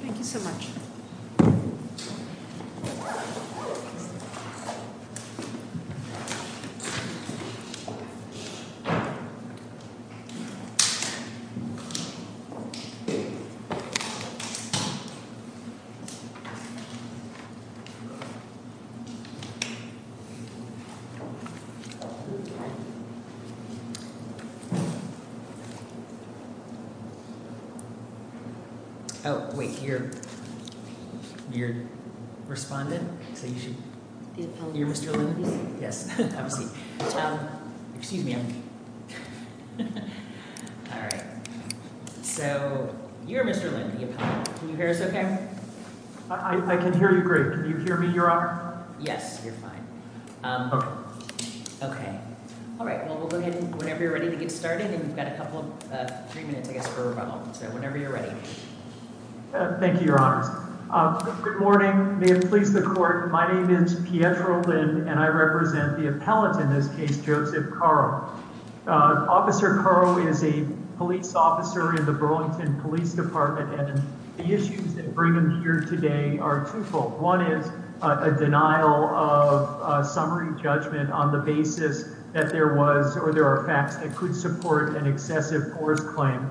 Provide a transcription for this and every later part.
Thank you so much. Oh, wait here. You're responding. Yes. Excuse me. All right. So, you're Mr. Okay. I can hear you great. Can you hear me your honor. Yes, you're fine. Okay. Okay. All right. Well, we'll go ahead and whenever you're ready to get started and we've got a couple of three minutes I guess for whenever you're ready. Thank you, Your Honor. Good morning, please the court. My name is Pietro Lynn and I represent the appellate in this case Joseph Carl. Officer Carl is a police officer in the Burlington Police Department and the issues that bring them here today are twofold. One is a denial of summary judgment on the basis that there was or there are facts that could support an excessive force claim.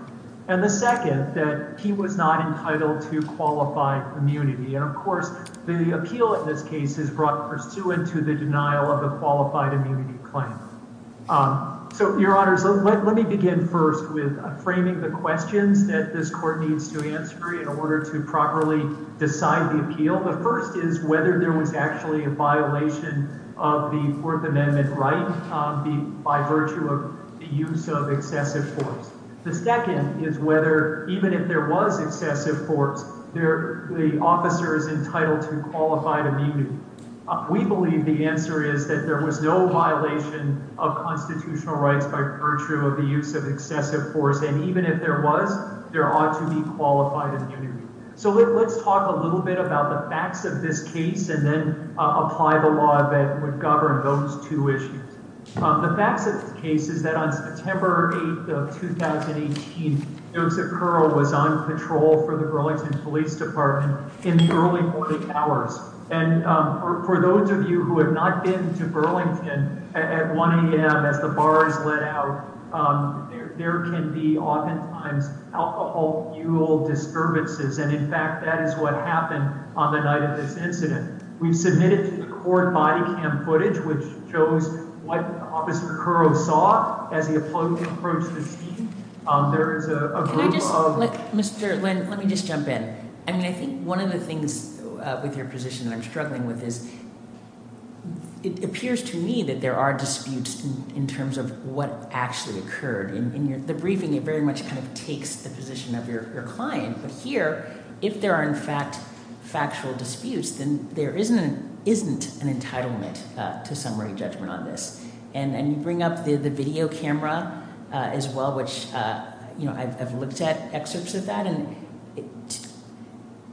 And the second that he was not entitled to qualified immunity. And of course, the appeal in this case is brought pursuant to the denial of the qualified immunity claim. So, Your Honor, let me begin first with framing the questions that this court needs to answer in order to properly decide the appeal. The first is whether there was actually a violation of the Fourth Amendment right by virtue of the use of excessive force. The second is whether even if there was excessive force there, the officer is entitled to qualified immunity. We believe the answer is that there was no violation of constitutional rights by virtue of the use of excessive force. And even if there was, there ought to be qualified immunity. So let's talk a little bit about the facts of this case and then apply the law that would govern those two issues. The facts of the case is that on September 8th of 2018, Joseph Carl was on patrol for the Burlington Police Department in the early morning hours. And for those of you who have not been to Burlington at 1 a.m. as the bar is let out, there can be oftentimes alcohol fuel disturbances. And in fact, that is what happened on the night of this incident. We've submitted to the court body cam footage, which shows what Officer Kuro saw as he approached the scene. Mr. Lynn, let me just jump in. I mean, I think one of the things with your position I'm struggling with is it appears to me that there are disputes in terms of what actually occurred in the briefing. It very much kind of takes the position of your client. But here, if there are, in fact, factual disputes, then there isn't an isn't an entitlement to summary judgment on this. And then you bring up the video camera as well, which I've looked at excerpts of that. And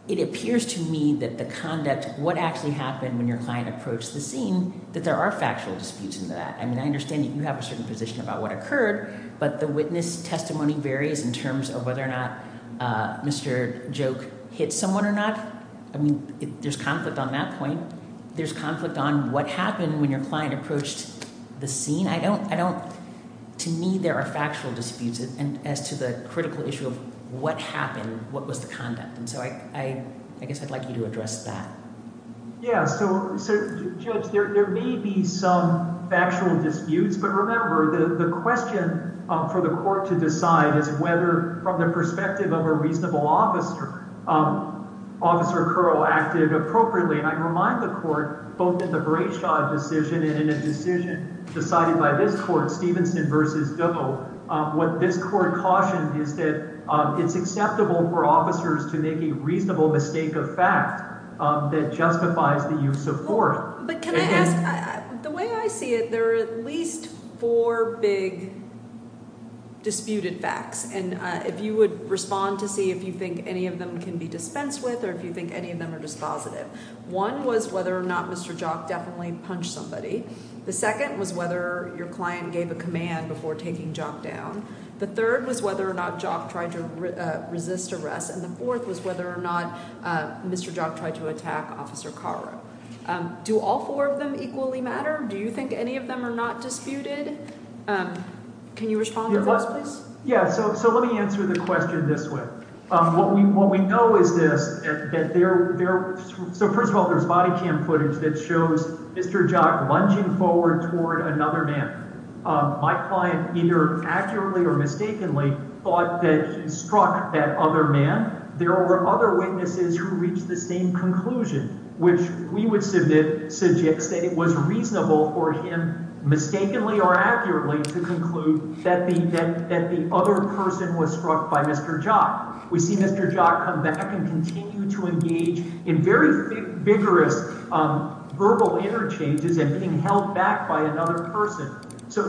it appears to me that the conduct, what actually happened when your client approached the scene, that there are factual disputes in that. And I understand that you have a certain position about what occurred. But the witness testimony varies in terms of whether or not Mr. Joke hit someone or not. I mean, there's conflict on that point. There's conflict on what happened when your client approached the scene. I don't I don't. To me, there are factual disputes. And as to the critical issue of what happened, what was the conduct? And so I guess I'd like you to address that. Yes. So, Judge, there may be some factual disputes. But remember, the question for the court to decide is whether, from the perspective of a reasonable officer, Officer Kuro acted appropriately. And I remind the court both in the great decision and in a decision decided by this court, Stevenson versus Doe. What this court cautioned is that it's acceptable for officers to make a reasonable mistake of fact that justifies the use of force. But can I ask the way I see it? There are at least four big. Disputed facts. And if you would respond to see if you think any of them can be dispensed with or if you think any of them are dispositive. One was whether or not Mr. Jock definitely punched somebody. The second was whether your client gave a command before taking Jock down. The third was whether or not Jock tried to resist arrest. And the fourth was whether or not Mr. Jock tried to attack Officer Cara. Do all four of them equally matter? Do you think any of them are not disputed? Can you respond to those, please? Yeah. So let me answer the question this way. What we know is this. So first of all, there's body cam footage that shows Mr. Jock lunging forward toward another man. My client either accurately or mistakenly thought that he struck that other man. There were other witnesses who reached the same conclusion, which we would submit suggests that it was reasonable for him mistakenly or accurately to conclude that the other person was struck by Mr. Jock. We see Mr. Jock come back and continue to engage in very vigorous verbal interchanges and being held back by another person. So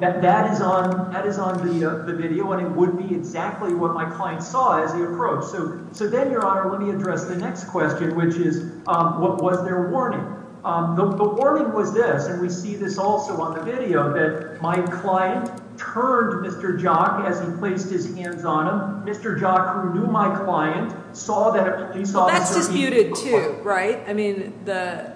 that is on the video, and it would be exactly what my client saw as the approach. So then, Your Honor, let me address the next question, which is what was their warning? The warning was this, and we see this also on the video, that my client turned Mr. Jock as he placed his hands on him. Mr. Jock, who knew my client, saw that he saw Mr. Jock. Well, that's disputed too, right? I mean, the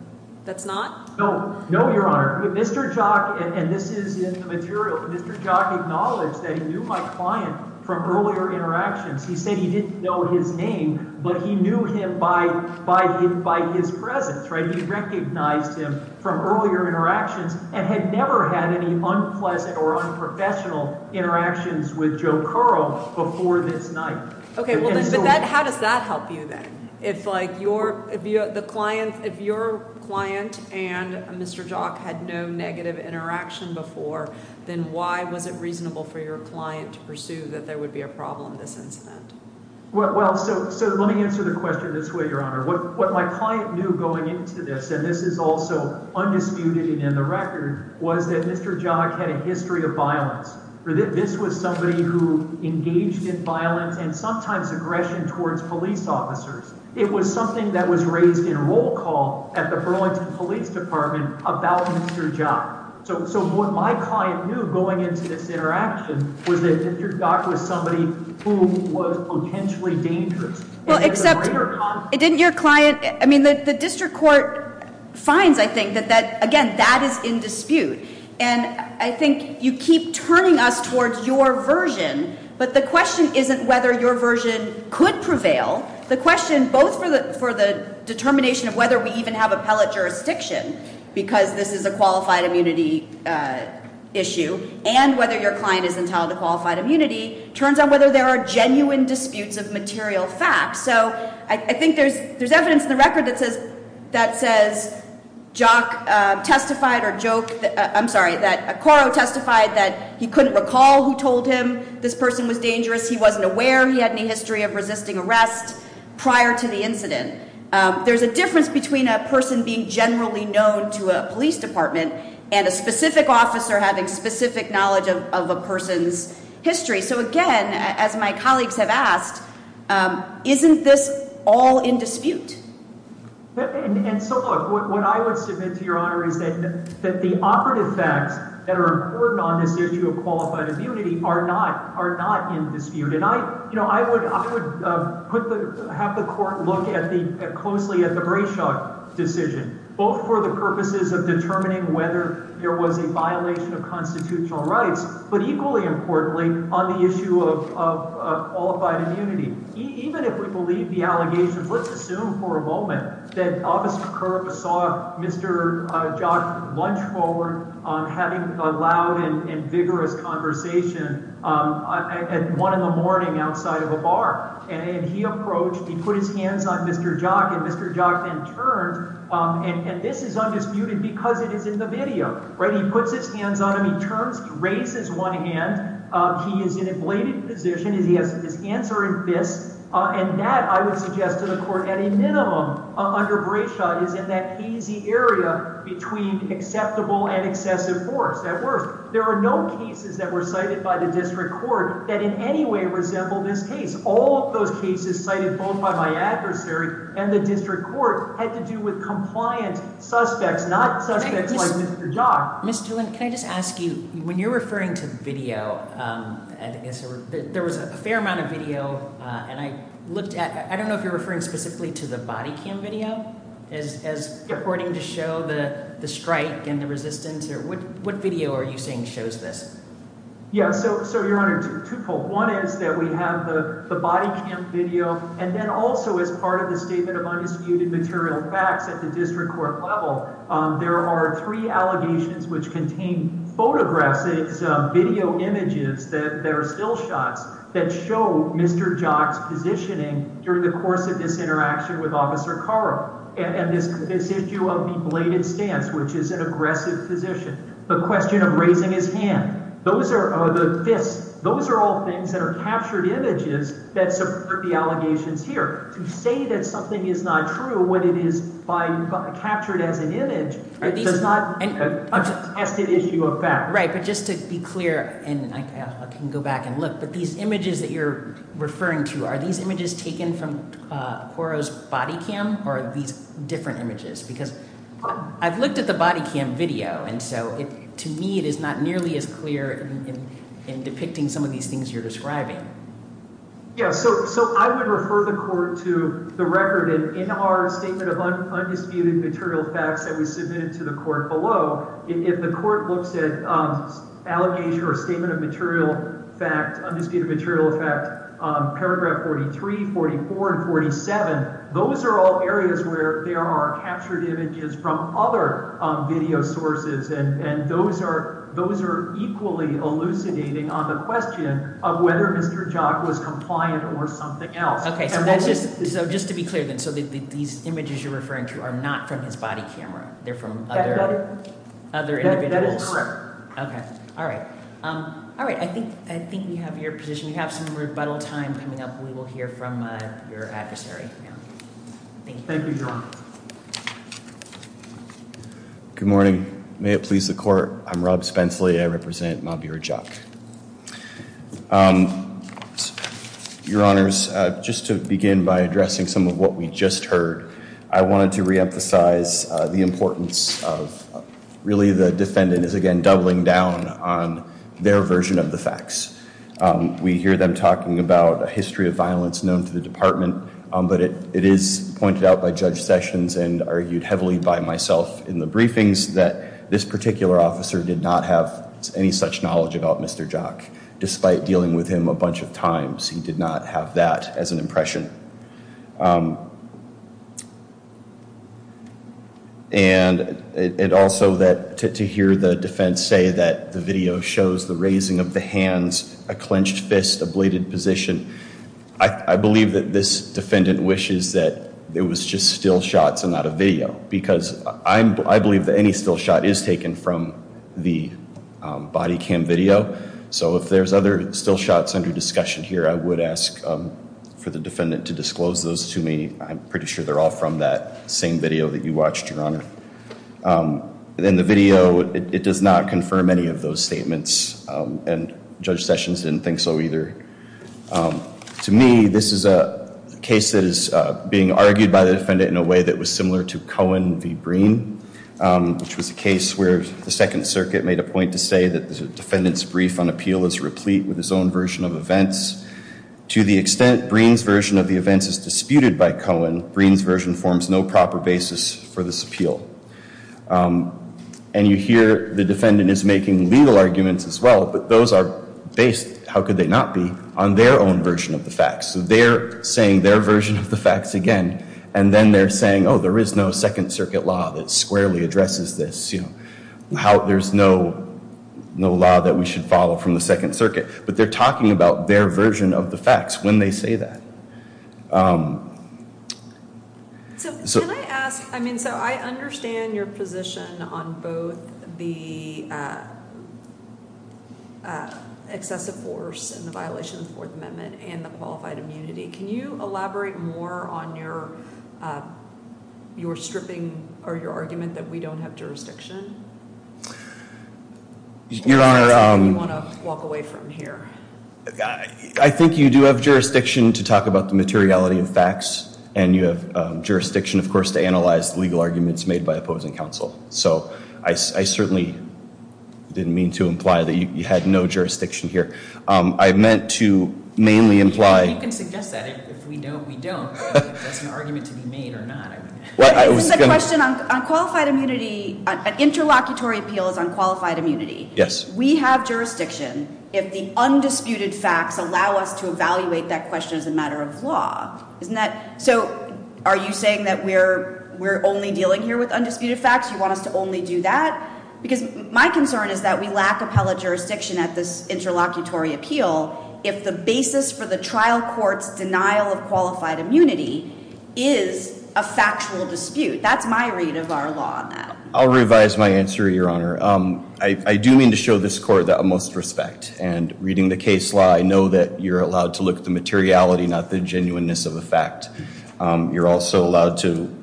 – that's not? No. No, Your Honor. Mr. Jock – and this is in the material – Mr. Jock acknowledged that he knew my client from earlier interactions. He said he didn't know his name, but he knew him by his presence, right? He recognized him from earlier interactions and had never had any unpleasant or unprofessional interactions with Joe Curro before this night. Okay. Well, then – but that – how does that help you then? If, like, your – if the client – if your client and Mr. Jock had no negative interaction before, then why was it reasonable for your client to pursue that there would be a problem in this incident? Well, so let me answer the question this way, Your Honor. What my client knew going into this – and this is also undisputed and in the record – was that Mr. Jock had a history of violence. This was somebody who engaged in violence and sometimes aggression towards police officers. It was something that was raised in roll call at the Burlington Police Department about Mr. Jock. So what my client knew going into this interaction was that Mr. Jock was somebody who was potentially dangerous. Well, except – And there's a greater conflict. I mean, the district court finds, I think, that that – again, that is in dispute. And I think you keep turning us towards your version, but the question isn't whether your version could prevail. The question, both for the determination of whether we even have appellate jurisdiction, because this is a qualified immunity issue, and whether your client is entitled to qualified immunity, turns out whether there are genuine disputes of material facts. So I think there's evidence in the record that says Jock testified or joked – I'm sorry, that Acoro testified that he couldn't recall who told him this person was dangerous. He wasn't aware he had any history of resisting arrest prior to the incident. There's a difference between a person being generally known to a police department and a specific officer having specific knowledge of a person's history. So, again, as my colleagues have asked, isn't this all in dispute? And so, look, what I would submit to Your Honor is that the operative facts that are important on this issue of qualified immunity are not in dispute. And I would put the – have the court look at the – closely at the Brayshaw decision, both for the purposes of determining whether there was a violation of constitutional rights, but equally importantly on the issue of qualified immunity. Even if we believe the allegations, let's assume for a moment that Officer Kerber saw Mr. Jock lunge forward having a loud and vigorous conversation at 1 in the morning outside of a bar. And he approached – he put his hands on Mr. Jock, and Mr. Jock then turned, and this is undisputed because it is in the video, right? And that I would suggest to the court at a minimum under Brayshaw is in that hazy area between acceptable and excessive force. At worst, there are no cases that were cited by the district court that in any way resemble this case. All of those cases cited both by my adversary and the district court had to do with compliant suspects, not suspects like Mr. Jock. Ms. Doolin, can I just ask you, when you're referring to video, there was a fair amount of video, and I looked at – I don't know if you're referring specifically to the body cam video as reporting to show the strike and the resistance. What video are you saying shows this? Yeah, so, Your Honor, twofold. One is that we have the body cam video. And then also as part of the statement of undisputed material facts at the district court level, there are three allegations which contain photographs, video images that are still shots that show Mr. Jock's positioning during the course of this interaction with Officer Kerber. And this issue of the bladed stance, which is an aggressive position, the question of raising his hand, those are all things that are captured images that support the allegations here. To say that something is not true when it is captured as an image, it does not – it's a tested issue of fact. Right, but just to be clear, and I can go back and look, but these images that you're referring to, are these images taken from Quarro's body cam or are these different images? Because I've looked at the body cam video, and so to me it is not nearly as clear in depicting some of these things you're describing. Yeah, so I would refer the court to the record, and in our statement of undisputed material facts that we submitted to the court below, if the court looks at allegation or statement of material fact, undisputed material fact, paragraph 43, 44, and 47, those are all areas where there are captured images from other video sources. And those are equally elucidating on the question of whether Mr. Jock was compliant or something else. Okay, so that's just – so just to be clear then, so these images you're referring to are not from his body camera? They're from other individuals? That is correct. Okay. All right. All right, I think we have your position. We have some rebuttal time coming up. We will hear from your adversary. Thank you. Thank you, Your Honor. Good morning. May it please the court, I'm Rob Spenceley. I represent Mahbir Jock. Your Honors, just to begin by addressing some of what we just heard, I wanted to reemphasize the importance of really the defendant is again doubling down on their version of the facts. We hear them talking about a history of violence known to the department, but it is pointed out by Judge Sessions and argued heavily by myself in the briefings that this particular officer did not have any such knowledge about Mr. Jock, despite dealing with him a bunch of times. He did not have that as an impression. And also to hear the defense say that the video shows the raising of the hands, a clenched fist, a bladed position, I believe that this defendant wishes that it was just still shots and not a video because I believe that any still shot is taken from the body cam video. So if there's other still shots under discussion here, I would ask for the defendant to disclose those to me. I'm pretty sure they're all from that same video that you watched, Your Honor. In the video, it does not confirm any of those statements and Judge Sessions didn't think so either. To me, this is a case that is being argued by the defendant in a way that was similar to Cohen v. Breen, which was a case where the Second Circuit made a point to say that the defendant's brief on appeal is replete with his own version of events. To the extent Breen's version of the events is disputed by Cohen, Breen's version forms no proper basis for this appeal. And you hear the defendant is making legal arguments as well, but those are based, how could they not be, on their own version of the facts. So they're saying their version of the facts again, and then they're saying, oh, there is no Second Circuit law that squarely addresses this. There's no law that we should follow from the Second Circuit. But they're talking about their version of the facts when they say that. So can I ask, I mean, so I understand your position on both the excessive force and the violation of the Fourth Amendment and the qualified immunity. Can you elaborate more on your stripping or your argument that we don't have jurisdiction? Your Honor, I think you do have jurisdiction to talk about that. You do have jurisdiction to talk about the materiality of facts, and you have jurisdiction, of course, to analyze the legal arguments made by opposing counsel. So I certainly didn't mean to imply that you had no jurisdiction here. I meant to mainly imply. You can suggest that. If we don't, we don't. That's an argument to be made or not. This is a question on qualified immunity. An interlocutory appeal is on qualified immunity. Yes. We have jurisdiction if the undisputed facts allow us to evaluate that question as a matter of law. Isn't that? So are you saying that we're only dealing here with undisputed facts? You want us to only do that? Because my concern is that we lack appellate jurisdiction at this interlocutory appeal if the basis for the trial court's denial of qualified immunity is a factual dispute. That's my read of our law on that. I'll revise my answer, Your Honor. I do mean to show this court the utmost respect. And reading the case law, I know that you're allowed to look at the materiality, not the genuineness of the fact. You're also allowed to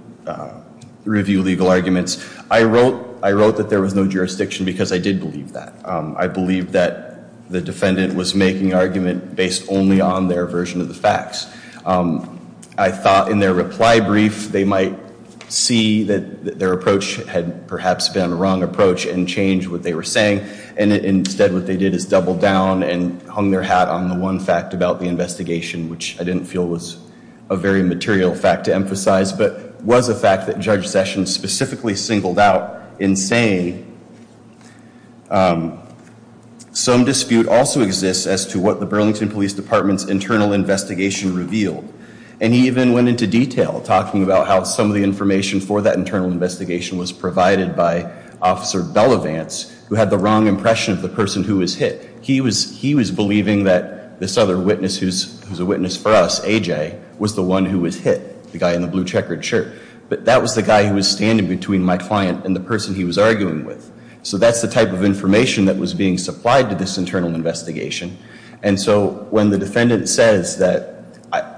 review legal arguments. I wrote that there was no jurisdiction because I did believe that. I believed that the defendant was making argument based only on their version of the facts. I thought in their reply brief they might see that their approach had perhaps been a wrong approach and change what they were saying. And instead what they did is double down and hung their hat on the one fact about the investigation, which I didn't feel was a very material fact to emphasize. But was a fact that Judge Sessions specifically singled out in saying some dispute also exists as to what the Burlington Police Department's internal investigation revealed. And he even went into detail talking about how some of the information for that internal investigation was provided by Officer Belavance, who had the wrong impression of the person who was hit. He was believing that this other witness who's a witness for us, AJ, was the one who was hit, the guy in the blue checkered shirt. But that was the guy who was standing between my client and the person he was arguing with. So that's the type of information that was being supplied to this internal investigation. And so when the defendant says that,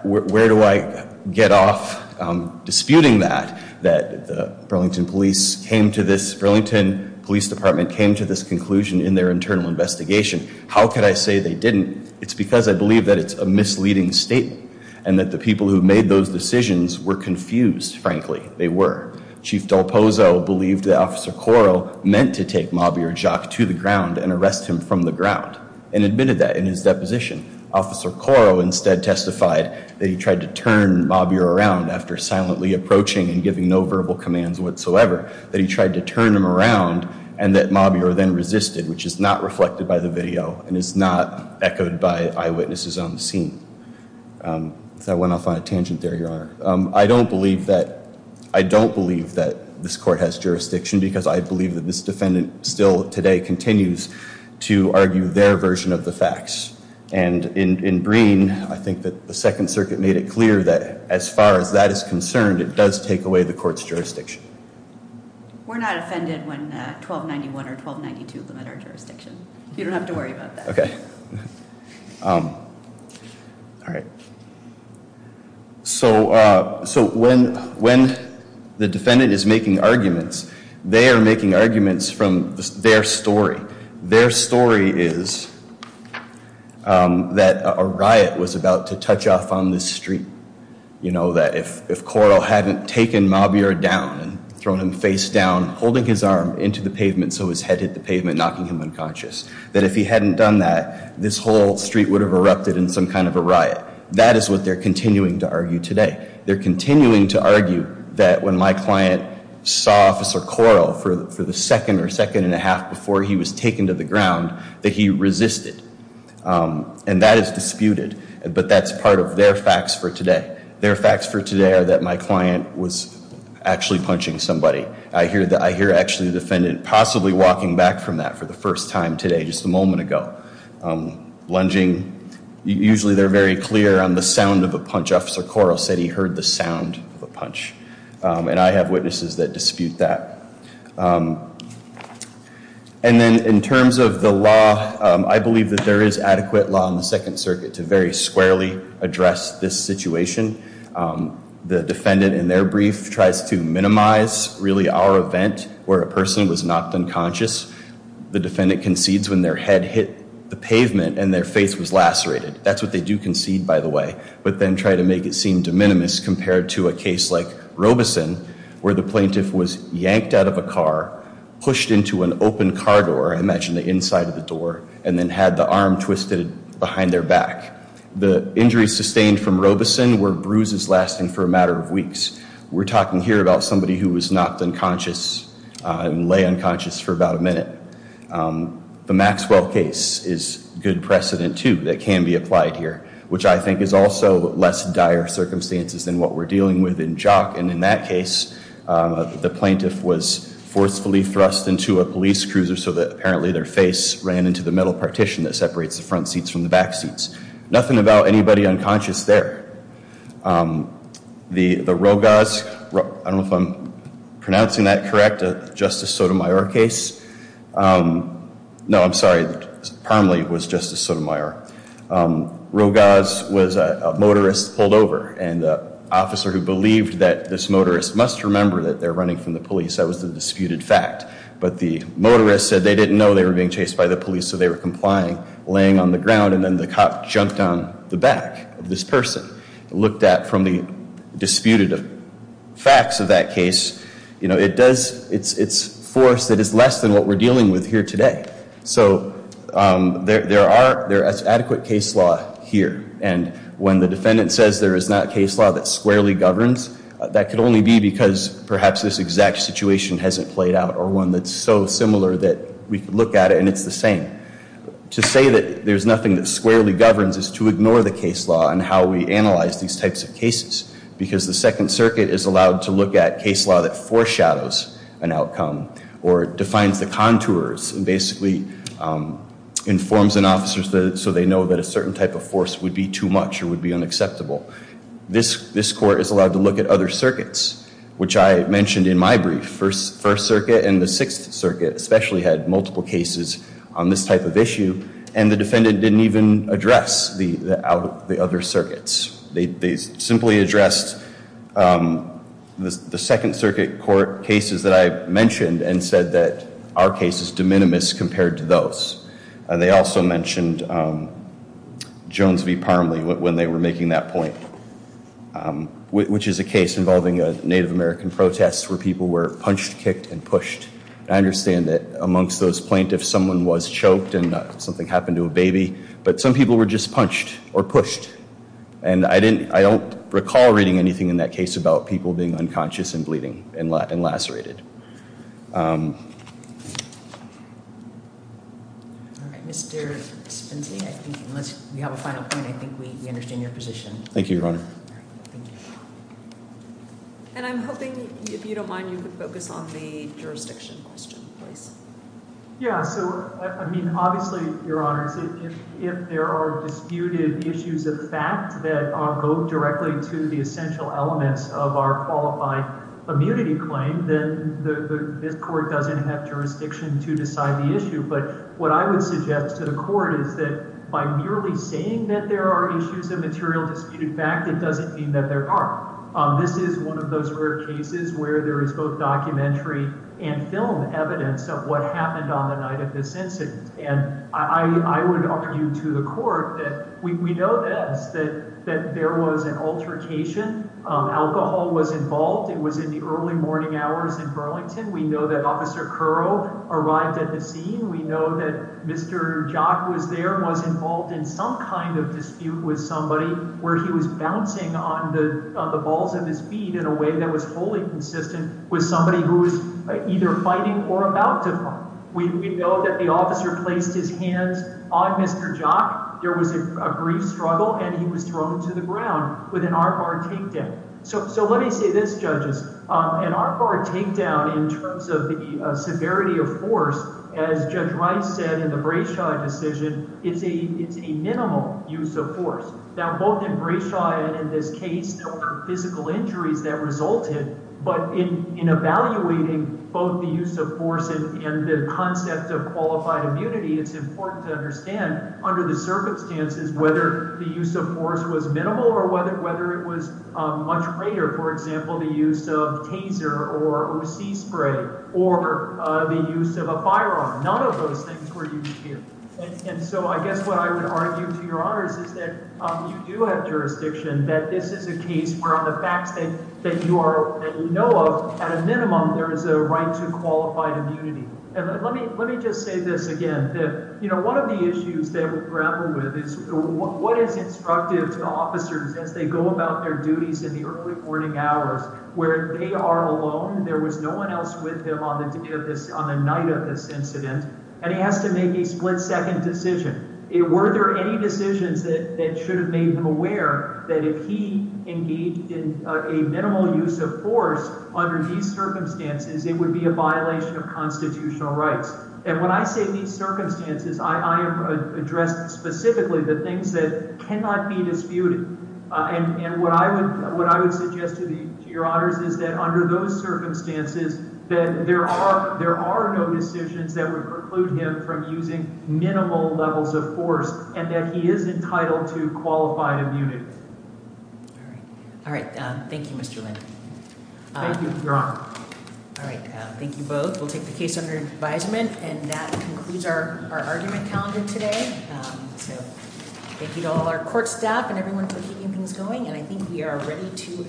where do I get off disputing that? That the Burlington Police came to this, Burlington Police Department came to this conclusion in their internal investigation. How could I say they didn't? It's because I believe that it's a misleading statement. And that the people who made those decisions were confused, frankly. They were. Chief Del Pozo believed that Officer Coro meant to take Mabier Jacques to the ground and arrest him from the ground. And admitted that in his deposition. Officer Coro instead testified that he tried to turn Mabier around after silently approaching and giving no verbal commands whatsoever. That he tried to turn him around and that Mabier then resisted, which is not reflected by the video and is not echoed by eyewitnesses on the scene. So I went off on a tangent there, Your Honor. I don't believe that this court has jurisdiction because I believe that this defendant still today continues to argue their version of the facts. And in Breen, I think that the Second Circuit made it clear that as far as that is concerned, it does take away the court's jurisdiction. We're not offended when 1291 or 1292 limit our jurisdiction. You don't have to worry about that. Okay. All right. So when the defendant is making arguments, they are making arguments from their story. Their story is that a riot was about to touch off on the street. You know that if Coro hadn't taken Mabier down and thrown him face down, holding his arm into the pavement so his head hit the pavement, knocking him unconscious. That if he hadn't done that, this whole street would have erupted in some kind of a riot. That is what they're continuing to argue today. They're continuing to argue that when my client saw Officer Coro for the second or second and a half before he was taken to the ground, that he resisted. And that is disputed. But that's part of their facts for today. Their facts for today are that my client was actually punching somebody. I hear actually the defendant possibly walking back from that for the first time today, just a moment ago. Lunging. Usually they're very clear on the sound of a punch. Officer Coro said he heard the sound of a punch. And I have witnesses that dispute that. And then in terms of the law, I believe that there is adequate law in the Second Circuit to very squarely address this situation. The defendant in their brief tries to minimize really our event where a person was knocked unconscious. The defendant concedes when their head hit the pavement and their face was lacerated. That's what they do concede, by the way. But then try to make it seem de minimis compared to a case like Robeson, where the plaintiff was yanked out of a car, pushed into an open car door. Imagine the inside of the door. And then had the arm twisted behind their back. The injuries sustained from Robeson were bruises lasting for a matter of weeks. We're talking here about somebody who was knocked unconscious and lay unconscious for about a minute. The Maxwell case is good precedent, too, that can be applied here. Which I think is also less dire circumstances than what we're dealing with in Jock. And in that case, the plaintiff was forcefully thrust into a police cruiser so that apparently their face ran into the metal partition that separates the front seats from the back seats. Nothing about anybody unconscious there. The Rogoz, I don't know if I'm pronouncing that correct, Justice Sotomayor case. No, I'm sorry. Parmley was Justice Sotomayor. Rogoz was a motorist pulled over. And the officer who believed that this motorist must remember that they're running from the police. That was the disputed fact. But the motorist said they didn't know they were being chased by the police. So they were complying, laying on the ground. And then the cop jumped on the back of this person. Looked at from the disputed facts of that case. It's force that is less than what we're dealing with here today. So there is adequate case law here. And when the defendant says there is not case law that squarely governs, that could only be because perhaps this exact situation hasn't played out. Or one that's so similar that we could look at it and it's the same. To say that there's nothing that squarely governs is to ignore the case law and how we analyze these types of cases. Because the Second Circuit is allowed to look at case law that foreshadows an outcome. Or defines the contours. And basically informs an officer so they know that a certain type of force would be too much or would be unacceptable. This court is allowed to look at other circuits. Which I mentioned in my brief. First Circuit and the Sixth Circuit especially had multiple cases on this type of issue. And the defendant didn't even address the other circuits. They simply addressed the Second Circuit court cases that I mentioned. And said that our case is de minimis compared to those. They also mentioned Jones v. Parmley when they were making that point. Which is a case involving a Native American protest where people were punched, kicked, and pushed. I understand that amongst those plaintiffs someone was choked and something happened to a baby. But some people were just punched or pushed. And I don't recall reading anything in that case about people being unconscious and bleeding and lacerated. Mr. Spencey, unless you have a final point, I think we understand your position. Thank you, Your Honor. And I'm hoping, if you don't mind, you could focus on the jurisdiction question, please. Yeah, so, I mean, obviously, Your Honor, if there are disputed issues of fact that go directly to the essential elements of our qualified immunity claim, then this court doesn't have jurisdiction to decide the issue. But what I would suggest to the court is that by merely saying that there are issues of material disputed fact, it doesn't mean that there aren't. This is one of those rare cases where there is both documentary and film evidence of what happened on the night of this incident. And I would argue to the court that we know this, that there was an altercation. Alcohol was involved. It was in the early morning hours in Burlington. We know that Officer Currow arrived at the scene. We know that Mr. Jock was there, was involved in some kind of dispute with somebody where he was bouncing on the balls of his feet in a way that was wholly consistent with somebody who was either fighting or about to fight. We know that the officer placed his hands on Mr. Jock. There was a brief struggle, and he was thrown to the ground with an armbar takedown. So let me say this, judges. An armbar takedown in terms of the severity of force, as Judge Rice said in the Brayshaw decision, is a minimal use of force. Now, both in Brayshaw and in this case, there were physical injuries that resulted, but in evaluating both the use of force and the concept of qualified immunity, it's important to understand under the circumstances whether the use of force was minimal or whether it was much greater, for example, the use of taser or O.C. spray or the use of a firearm. None of those things were used here. And so I guess what I would argue to your honors is that you do have jurisdiction that this is a case where on the facts that you are – that you know of, at a minimum, there is a right to qualified immunity. And let me just say this again. One of the issues that we grapple with is what is instructive to officers as they go about their duties in the early morning hours where they are alone. There was no one else with him on the night of this incident, and he has to make a split-second decision. Were there any decisions that should have made him aware that if he engaged in a minimal use of force under these circumstances, it would be a violation of constitutional rights? And when I say these circumstances, I am addressing specifically the things that cannot be disputed. And what I would suggest to your honors is that under those circumstances, that there are no decisions that would preclude him from using minimal levels of force and that he is entitled to qualified immunity. All right. Thank you, Mr. Lind. Thank you, Your Honor. All right. Thank you both. We'll take the case under advisement. And that concludes our argument calendar today. Thank you to all our court staff and everyone for keeping things going. And I think we are ready to adjourn.